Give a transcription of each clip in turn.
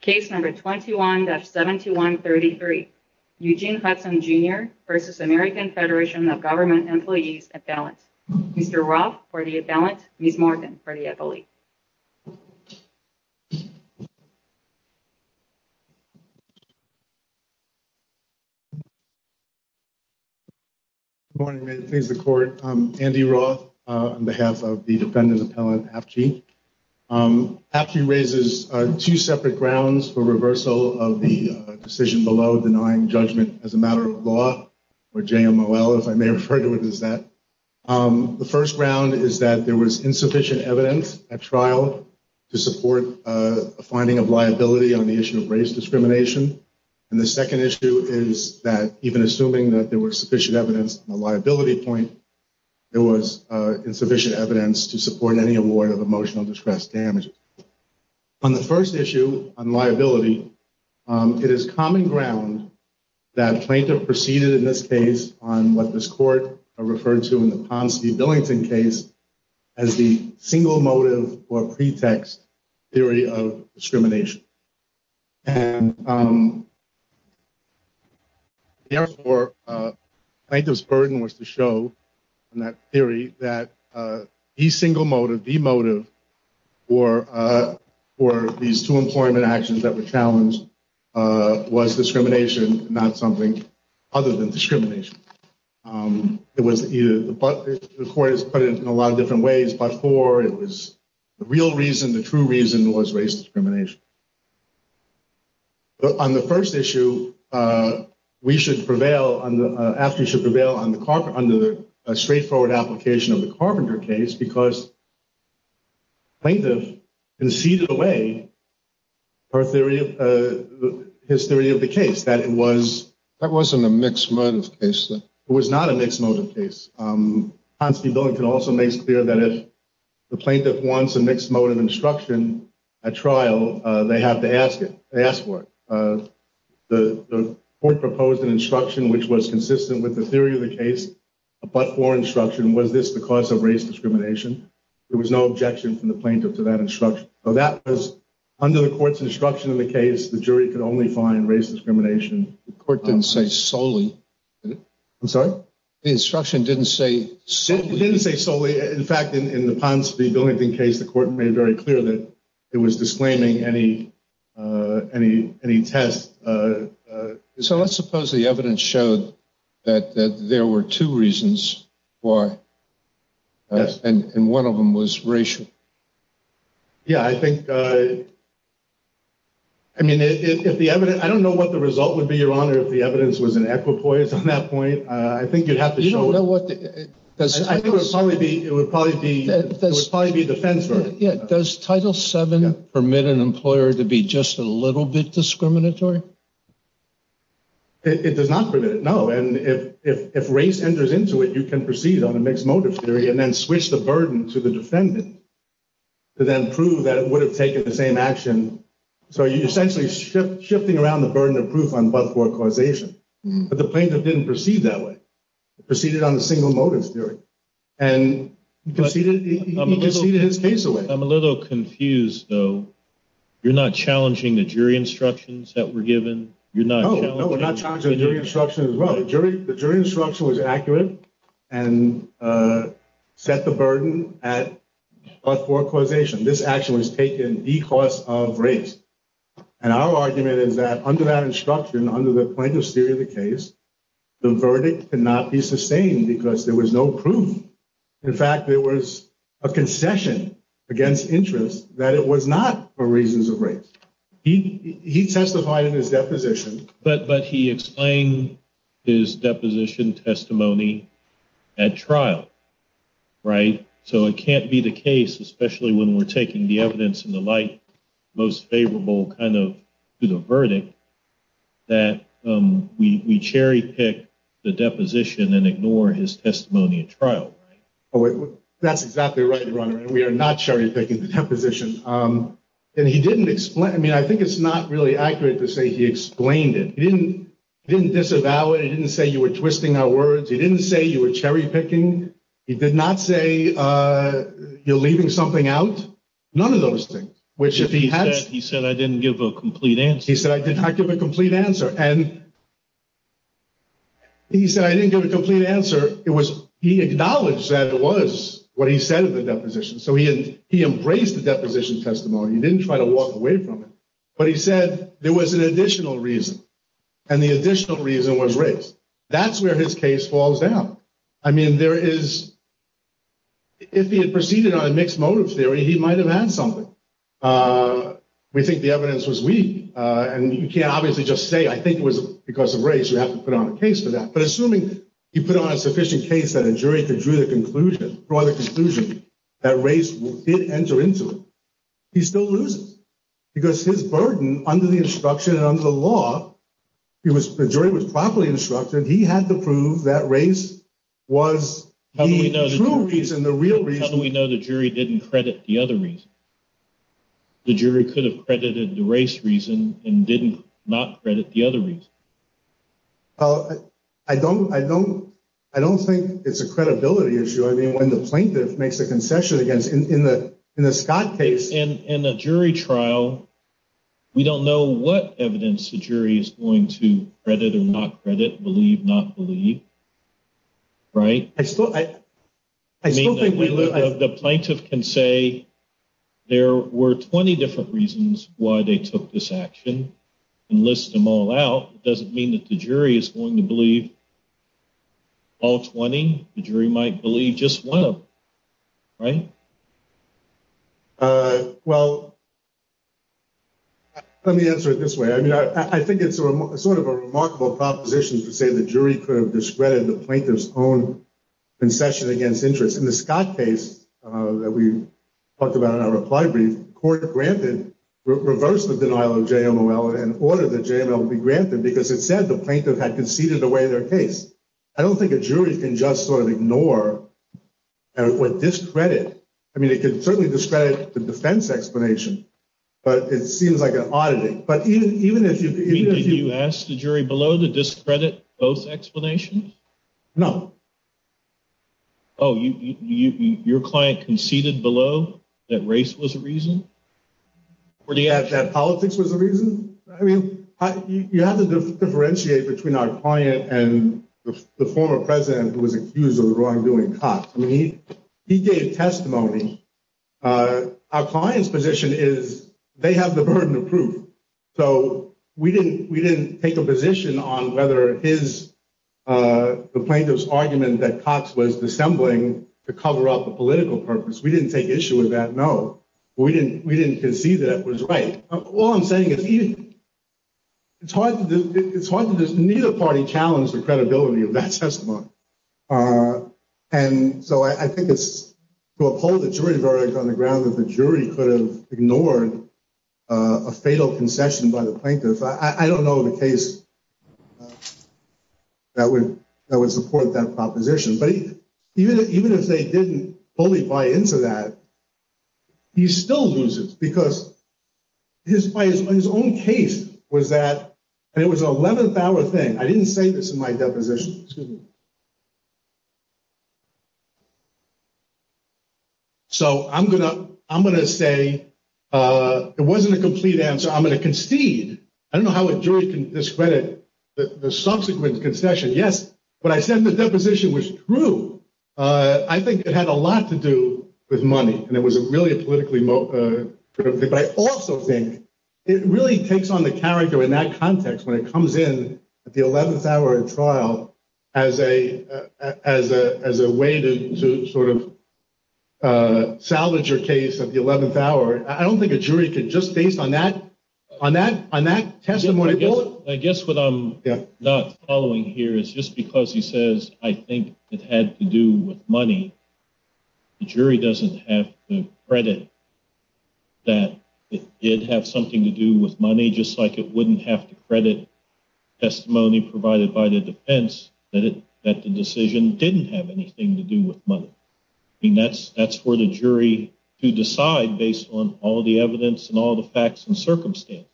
Case number 21-7133, Eugene Hudson, Jr. v. American Federation of Government Employees Appellant. Mr. Roth for the appellant, Ms. Morgan for the appellee. Good morning, ma'am. Please, the court. I'm Andy Roth on behalf of the defendant appellant, Apchey. Apchey raises two separate grounds for reversal of the decision below denying judgment as a matter of law, or JMOL, if I may refer to it as that. The first ground is that there was insufficient evidence at trial to support a finding of liability on the issue of race discrimination. And the second issue is that even assuming that there was sufficient evidence on the On the first issue on liability, it is common ground that plaintiff proceeded in this case on what this court referred to in the Ponsonby-Billington case as the single motive or pretext theory of discrimination. And therefore, plaintiff's burden was to show in that theory that the single motive, the basis for these two employment actions that were challenged was discrimination, not something other than discrimination. It was either, the court has put it in a lot of different ways, but for, it was the real reason, the true reason was race discrimination. On the first issue, we should prevail, Apchey should prevail under the straightforward application of the Carpenter case because plaintiff conceded away her theory, his theory of the case, that it was... That wasn't a mixed motive case, though. It was not a mixed motive case. Ponsonby-Billington also makes clear that if the plaintiff wants a mixed motive instruction at trial, they have to ask it, they ask for it. The court proposed an instruction which was consistent with the theory of the case, but not for instruction. Was this the cause of race discrimination? There was no objection from the plaintiff to that instruction. So that was, under the court's instruction in the case, the jury could only find race discrimination. The court didn't say solely, did it? I'm sorry? The instruction didn't say solely. It didn't say solely. In fact, in the Ponsonby-Billington case, the court made very clear that it was disclaiming any test. So let's suppose the evidence showed that there were two reasons why, and one of them was racial. Yeah, I think, I mean, if the evidence, I don't know what the result would be, Your Honor, if the evidence was an equipoise on that point. I think you'd have to show it. You don't know what the... I think it would probably be, it would probably be, it would probably be defense for it. Does Title VII permit an employer to be just a little bit discriminatory? It does not permit it, no. And if race enters into it, you can proceed on a mixed motive theory and then switch the burden to the defendant to then prove that it would have taken the same action. So you're essentially shifting around the burden of proof on but-for causation. But the plaintiff didn't proceed that way. He proceeded on a single motive theory. And he conceded his case away. I'm a little confused, though. You're not challenging the jury instructions that were given? You're not challenging... No, we're not challenging the jury instructions as well. The jury instruction was accurate and set the burden at but-for causation. This action was taken because of race. And our argument is that under that instruction, under the plaintiff's theory of the case, the verdict cannot be sustained because there was no proof. In fact, there was a concession against interest that it was not for reasons of race. He testified in his deposition. But he explained his deposition testimony at trial, right? So it can't be the case, especially when we're taking the evidence in the light most favorable kind of to the verdict, that we cherry-pick the deposition and ignore his testimony at trial, right? Oh, that's exactly right, Your Honor. We are not cherry-picking the deposition. And he didn't explain... I mean, I think it's not really accurate to say he explained it. He didn't disavow it. He didn't say you were twisting our words. He didn't say you were cherry-picking. He did not say you're leaving something out. None of those things. He said, I didn't give a complete answer. He said, I didn't give a complete answer. And he said, I didn't give a complete answer. It was he acknowledged that it was what he said in the deposition. So he embraced the deposition testimony. He didn't try to walk away from it. But he said there was an additional reason, and the additional reason was race. That's where his case falls down. I mean, there is... If he had proceeded on a mixed motive theory, he might have had something. We think the evidence was weak, and you can't obviously just say, I think it was because of race. You have to put on a case for that. But assuming he put on a sufficient case that a jury could draw the conclusion that race did enter into it, he's still losing. Because his burden under the instruction and under the law, the jury was properly instructed. He had to prove that race was the true reason, the real reason. How do we know the jury didn't credit the other reason? The jury could have credited the race reason and didn't not credit the other reason. I don't think it's a credibility issue. I mean, when the plaintiff makes a concession against, in the Scott case. In a jury trial, we don't know what evidence the jury is going to credit or not credit, believe, not believe, right? I still think we- The plaintiff can say, there were 20 different reasons why they took this action. And list them all out, it doesn't mean that the jury is going to believe all 20. The jury might believe just one of them, right? Well, let me answer it this way. I think it's sort of a remarkable proposition to say the jury could have discredited the plaintiff's own concession against interest. In the Scott case that we talked about in our reply brief, court reversed the denial of JML and ordered the JML to be granted. Because it said the plaintiff had conceded away their case. I don't think a jury can just sort of ignore what discredit. I mean, it could certainly discredit the defense explanation, but it seems like an auditing. But even if you- Did you ask the jury below to discredit both explanations? No. Your client conceded below that race was a reason? Or the- That politics was a reason? I mean, you have to differentiate between our client and the former president who was accused of the wrongdoing cops. I mean, he gave testimony. Our client's position is they have the burden of proof. So we didn't take a position on whether the plaintiff's argument that Cox was dissembling to cover up the political purpose. We didn't take issue with that, no. We didn't concede that it was right. All I'm saying is it's hard to just neither party challenge the credibility of that testimony. And so I think it's to uphold the jury verdict on the ground that the jury could have ignored a fatal concession by the plaintiff. I don't know of a case that would support that proposition. But even if they didn't fully buy into that, he still loses. Because his own case was that, and it was an 11th hour thing. I didn't say this in my deposition. Excuse me. So I'm gonna say, it wasn't a complete answer. I'm gonna concede. I don't know how a jury can discredit the subsequent concession. Yes, but I said the deposition was true. I think it had a lot to do with money. And it was really a politically motivated thing. But I also think it really takes on the character in that context when it comes in at the 11th hour of trial as a way to sort of salvage your case at the 11th hour. I don't think a jury could just based on that testimony bullet. I guess what I'm not following here is just because he says I think it had to do with money, the jury doesn't have the credit that it did have something to do with money, just like it wouldn't have to credit testimony provided by the defense that the decision didn't have anything to do with money. I mean, that's where the jury to decide based on all the evidence and all the facts and circumstances.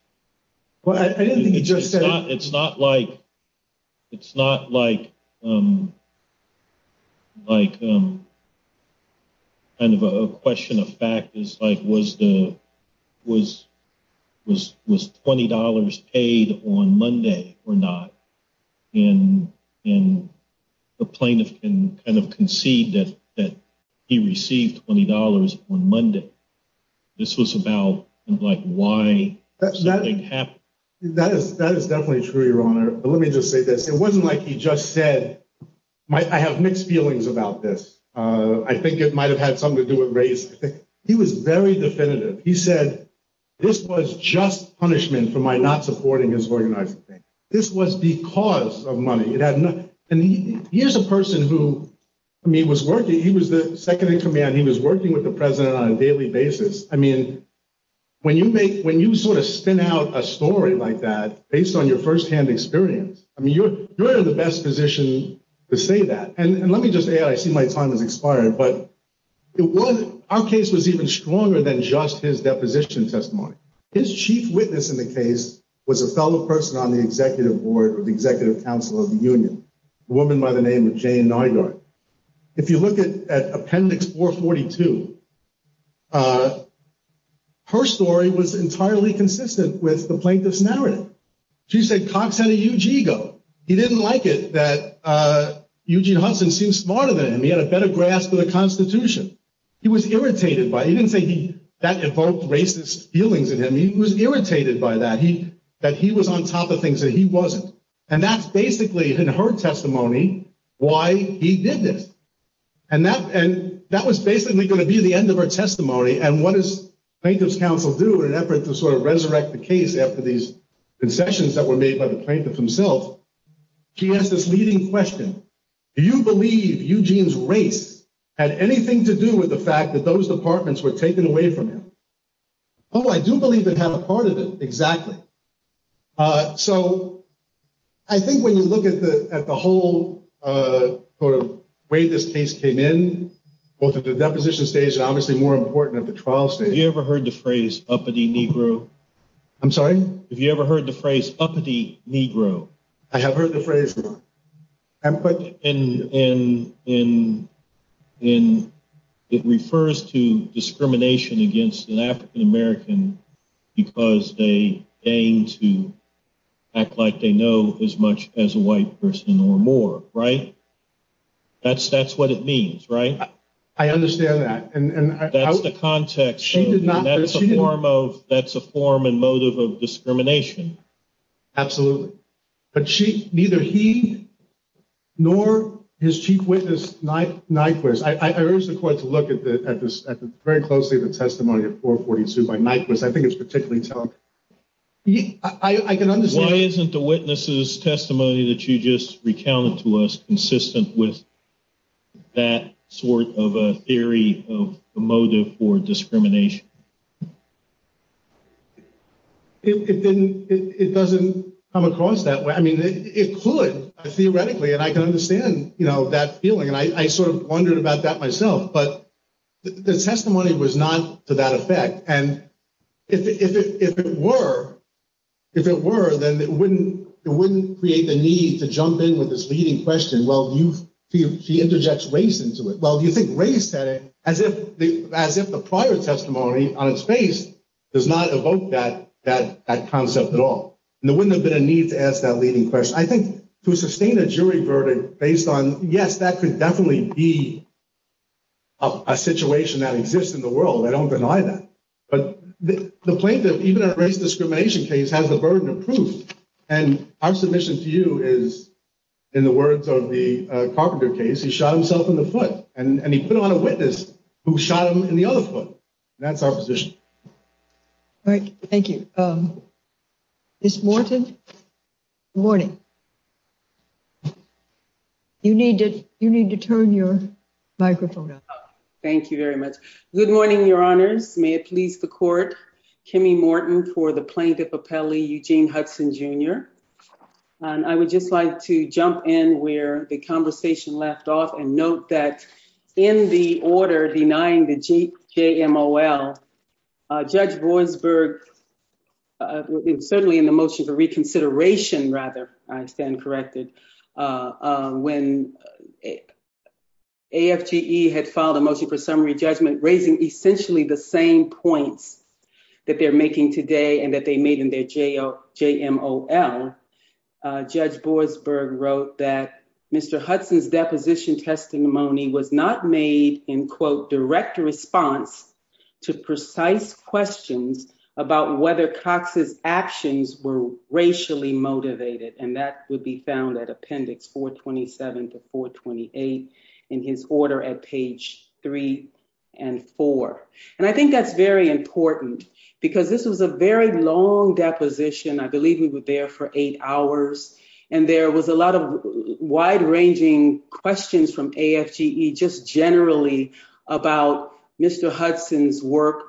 Well, I didn't think you just said. It's not like kind of a question of fact. It's like was $20 paid on Monday or not? And the plaintiff can kind of concede that he received $20 on Monday. This was about like why something happened. That is definitely true, your honor. Let me just say this. It wasn't like he just said, I have mixed feelings about this. I think it might have had something to do with race. He was very definitive. He said, this was just punishment for my not supporting his organizing thing. This was because of money. It had nothing. And here's a person who, I mean, he was working. He was the second in command. He was working with the president on a daily basis. I mean, when you sort of spin out a story like that, based on your firsthand experience, I mean, you're in the best position to say that. And let me just add, I see my time has expired. But our case was even stronger than just his deposition testimony. His chief witness in the case was a fellow person on the executive board or the executive council of the union, a woman by the name of Jane Neidhart. If you look at appendix 442, her story was entirely consistent with the plaintiff's narrative. She said Cox had a huge ego. He didn't like it that Eugene Huntsman seemed smarter than him. He had a better grasp of the Constitution. He was irritated by it. He didn't say that evoked racist feelings in him. He was irritated by that, that he was on top of things that he wasn't. And that's basically, in her testimony, why he did this. And that was basically gonna be the end of her testimony. And what does plaintiff's counsel do in an effort to sort of resurrect the case after these concessions that were made by the plaintiff himself? She asked this leading question. Do you believe Eugene's race had anything to do with the fact that those departments were taken away from him? I do believe they had a part of it, exactly. So I think when you look at the whole sort of way this case came in, both at the deposition stage and obviously more important at the trial stage. Have you ever heard the phrase uppity Negro? I'm sorry? I have heard the phrase. And it refers to discrimination against an African-American because they aim to act like they know as much as a white person or more, right? That's what it means, right? I understand that. That's the context. She did not- That's a form and motive of discrimination. Absolutely. But she, neither he nor his chief witness Nyquist, I urge the court to look at this very closely, the testimony of 442 by Nyquist. I think it's particularly telling. I can understand- Why isn't the witness's testimony that you just recounted to us consistent with that sort of a theory of motive for discrimination? It doesn't come across that way. I mean, it could theoretically, and I can understand that feeling. And I sort of wondered about that myself, but the testimony was not to that effect. And if it were, then it wouldn't create the need to jump in with this leading question. Well, she interjects race into it. Well, do you think race had it as if the prior testimony on its face does not evoke that concept at all? And there wouldn't have been a need to ask that leading question. I think to sustain a jury verdict based on, yes, that could definitely be a situation that exists in the world. I don't deny that. But the plaintiff, even in a race discrimination case, has the burden of proof. And our submission to you is, in the words of the Carpenter case, he shot himself in the foot. And he put on a witness who shot him in the other foot. That's our position. All right. Thank you. Ms. Morton? Good morning. You need to turn your microphone up. Thank you very much. Good morning, Your Honors. May it please the court. Kimmy Morton for the plaintiff appellee, Eugene Hudson, Jr. And I would just like to jump in where the conversation left off and note that in the order denying the JMOL, Judge Boasberg, certainly in the motion for reconsideration, rather, I stand corrected, when AFGE had filed a motion for summary judgment raising essentially the same points that they're making today and that they made in their JMOL, Judge Boasberg wrote that Mr. Hudson's deposition testimony was not made in, quote, direct response to precise questions about whether Cox's actions were racially motivated. And that would be found at appendix 427 to 428 in his order at page three and four. And I think that's very important because this was a very long deposition. I believe we were there for eight hours. And there was a lot of wide-ranging questions from AFGE just generally about Mr. Hudson's work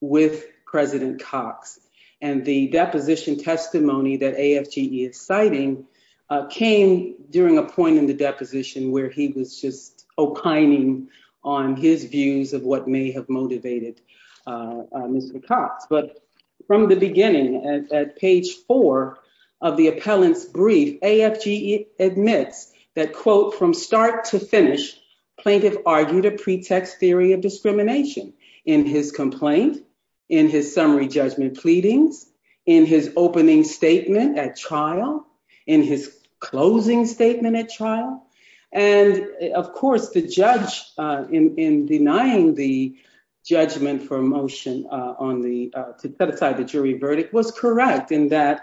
with President Cox. And the deposition testimony that AFGE is citing came during a point in the deposition where he was just opining on his views of what may have motivated Mr. Cox. But from the beginning at page four of the appellant's brief, AFGE admits that, quote, from start to finish, plaintiff argued a pretext theory of discrimination in his complaint, in his summary judgment pleadings, in his opening statement at trial, in his closing statement at trial. And, of course, the judge in denying the judgment for a motion to set aside the jury verdict was correct in that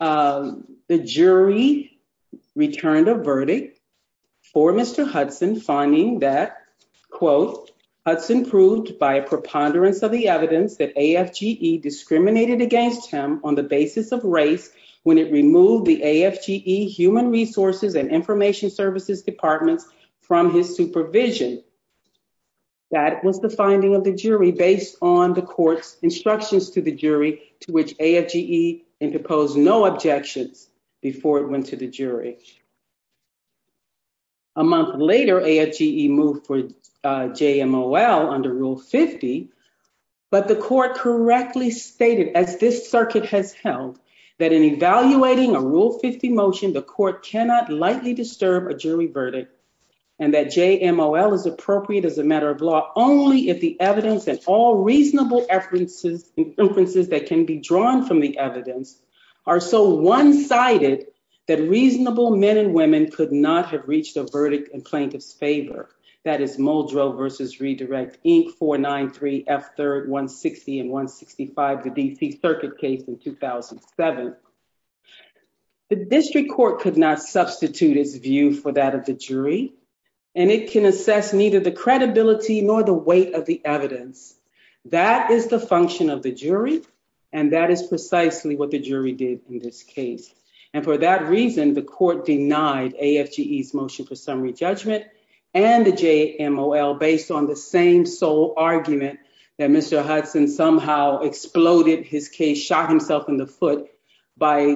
the jury returned a verdict for Mr. Hudson, finding that, quote, Hudson proved by a preponderance of the evidence that AFGE discriminated against him on the basis of race when it removed the AFGE human resources and information services departments from his supervision. That was the finding of the jury based on the court's instructions to the jury to which AFGE interposed no objections before it went to the jury. A month later, AFGE moved for JMOL under Rule 50, but the court correctly stated, as this circuit has held, that in evaluating a Rule 50 motion, the court cannot lightly disturb a jury verdict and that JMOL is appropriate as a matter of law only if the evidence and all reasonable inferences that can be drawn from the evidence are so one-sided that reasonable men and women could not have reached a verdict in plaintiff's favor. That is Muldrow v. Redirect, Inc. 493, F. 3rd, 160, and 165, the D.C. Circuit case in 2007. The district court could not substitute its view for that of the jury, and it can assess neither the credibility nor the weight of the evidence. That is the function of the jury, and that is precisely what the jury did in this case. And for that reason, the court denied AFGE's motion for summary judgment and the JMOL based on the same sole argument that Mr. Hudson somehow exploded his case, shot himself in the foot by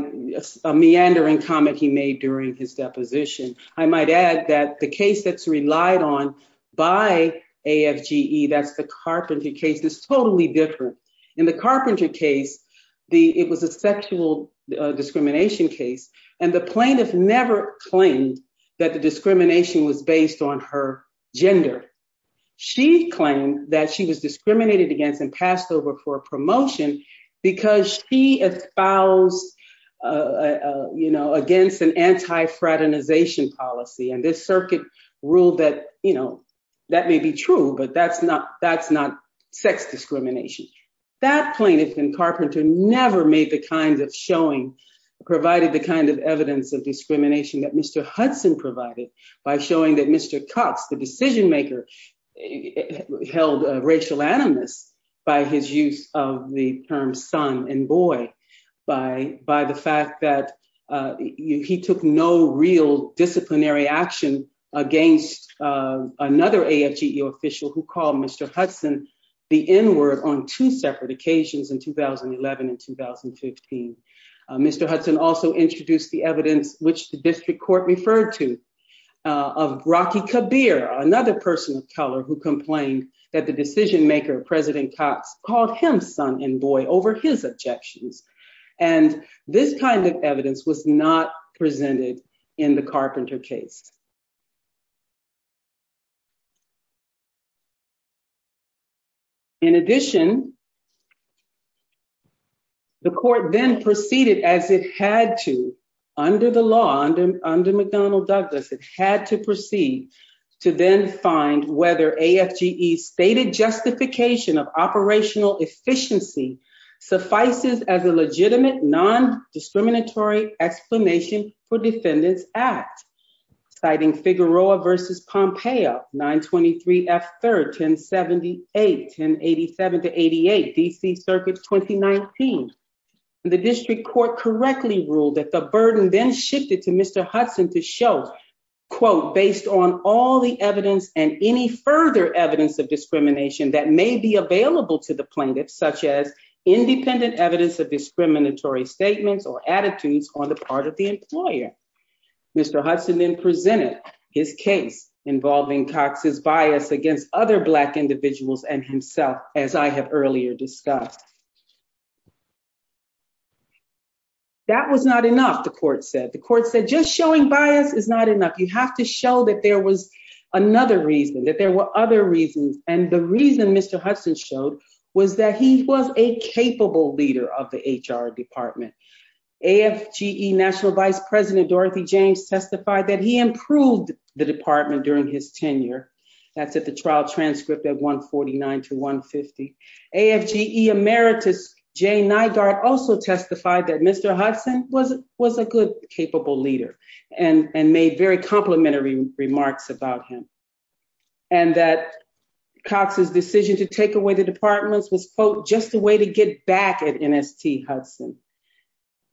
a meandering comment he made during his deposition. I might add that the case that's relied on by AFGE, that's the Carpenter case, is totally different. In the Carpenter case, it was a sexual discrimination case, and the plaintiff never claimed that the discrimination was based on her gender. She claimed that she was discriminated against and passed over for a promotion because she espoused against an anti-fraternization policy, and this circuit ruled that that may be true, but that's not sex discrimination. That plaintiff in Carpenter never made the kind of showing, provided the kind of evidence of discrimination that Mr. Hudson provided by showing that Mr. Cox, the decision maker, held racial animus by his use of the term son and boy, by the fact that he took no real disciplinary action against another AFGE official who called Mr. Hudson the N-word on two separate occasions in 2011 and 2015. Mr. Hudson also introduced the evidence which the district court referred to of Rocky Kabir, another person of color who complained that the decision maker, President Cox, called him son and boy over his objections, and this kind of evidence was not presented in the Carpenter case. In addition, the court then proceeded as it had to under the law, under McDonnell Douglas, it had to proceed to then find whether AFGE's stated justification of operational efficiency suffices as a legitimate non-discriminatory explanation for Defendant's Act, citing Figueroa v. Pompeo, 923 F. 3rd, 1078, 1087 to 88, DC Circuit 2019. The district court correctly ruled that the burden then shifted to Mr. Hudson to show, quote, based on all the evidence and any further evidence of discrimination that may be available to the plaintiff, such as independent evidence of discriminatory statements or attitudes on the part of the employer. Mr. Hudson then presented his case involving Cox's bias against other black individuals and himself, as I have earlier discussed. That was not enough, the court said. The court said, just showing bias is not enough. You have to show that there was another reason, that there were other reasons. And the reason Mr. Hudson showed was that he was a capable leader of the HR department. AFGE National Vice President, Dorothy James, testified that he improved the department during his tenure. That's at the trial transcript at 149 to 150. AFGE emeritus, Jay Nygaard, also testified that Mr. Hudson was a good, capable leader and made very complimentary remarks about him. And that Cox's decision to take away the departments was, quote, just a way to get back at NST Hudson.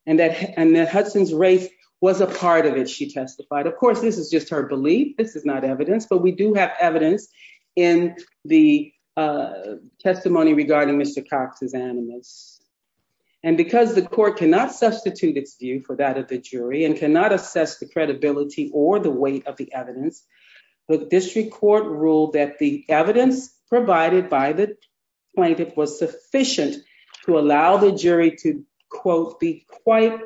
And that Hudson's race was a part of it, she testified. Of course, this is just her belief. This is not evidence, but we do have evidence in the testimony regarding Mr. Cox's animus. And because the court cannot substitute its view for that of the jury and cannot assess the credibility or the weight of the evidence, the district court ruled that the evidence provided by the plaintiff was sufficient to allow the jury to, quote, be quite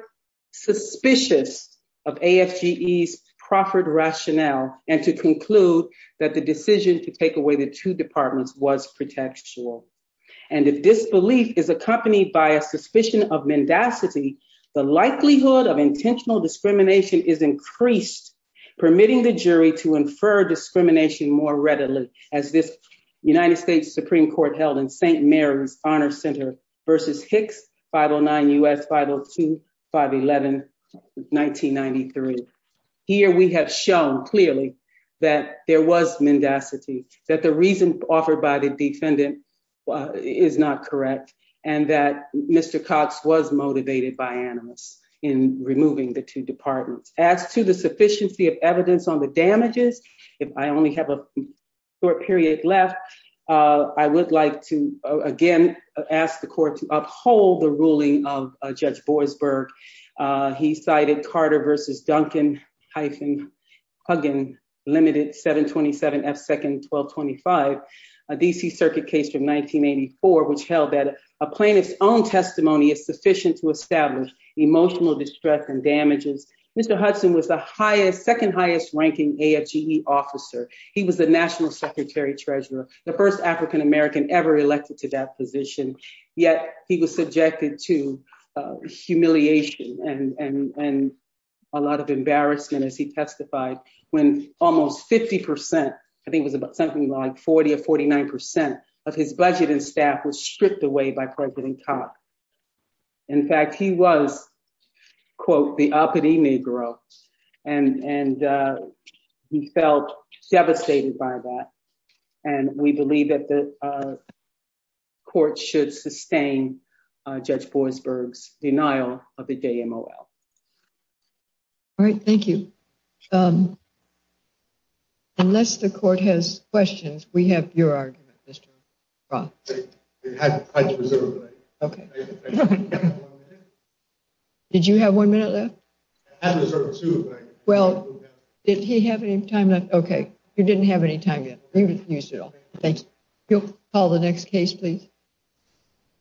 suspicious of AFGE's proffered rationale and to conclude that the decision to take away the two departments was pretextual. And if this belief is accompanied by a suspicion of mendacity, the likelihood of intentional discrimination is increased, permitting the jury to infer discrimination more readily as this United States Supreme Court held in St. Mary's Honor Center versus Hicks 509 U.S. 502 511 1993. Here we have shown clearly that there was mendacity, that the reason offered by the defendant is not correct, and that Mr. Cox was motivated by animus in removing the two departments. As to the sufficiency of evidence on the damages, if I only have a short period left, I would like to, again, ask the court to uphold the ruling of Judge Boisberg. He cited Carter versus Duncan hyphen Huggen limited 727 F second 1225, a DC circuit case from 1984, which held that a plaintiff's own testimony is sufficient to establish emotional distress and damages. Mr. Hudson was the highest, second highest ranking AFGE officer. He was the national secretary treasurer, the first African-American ever elected to that position, yet he was subjected to humiliation and a lot of embarrassment as he testified when almost 50%, I think it was about something like 40 or 49% of his budget and staff was stripped away by President Cox. In fact, he was, quote, the uppity Negro, and he felt devastated by that. And we believe that the court should sustain Judge Boisberg's denial of the DMOL. All right, thank you. Unless the court has questions, we have your argument, Mr. Roth. I had to reserve a minute. Okay. I have one minute. Did you have one minute left? I had to reserve two. Well, did he have any time left? Okay, you didn't have any time yet. You used it all, thank you. You'll call the next case, please.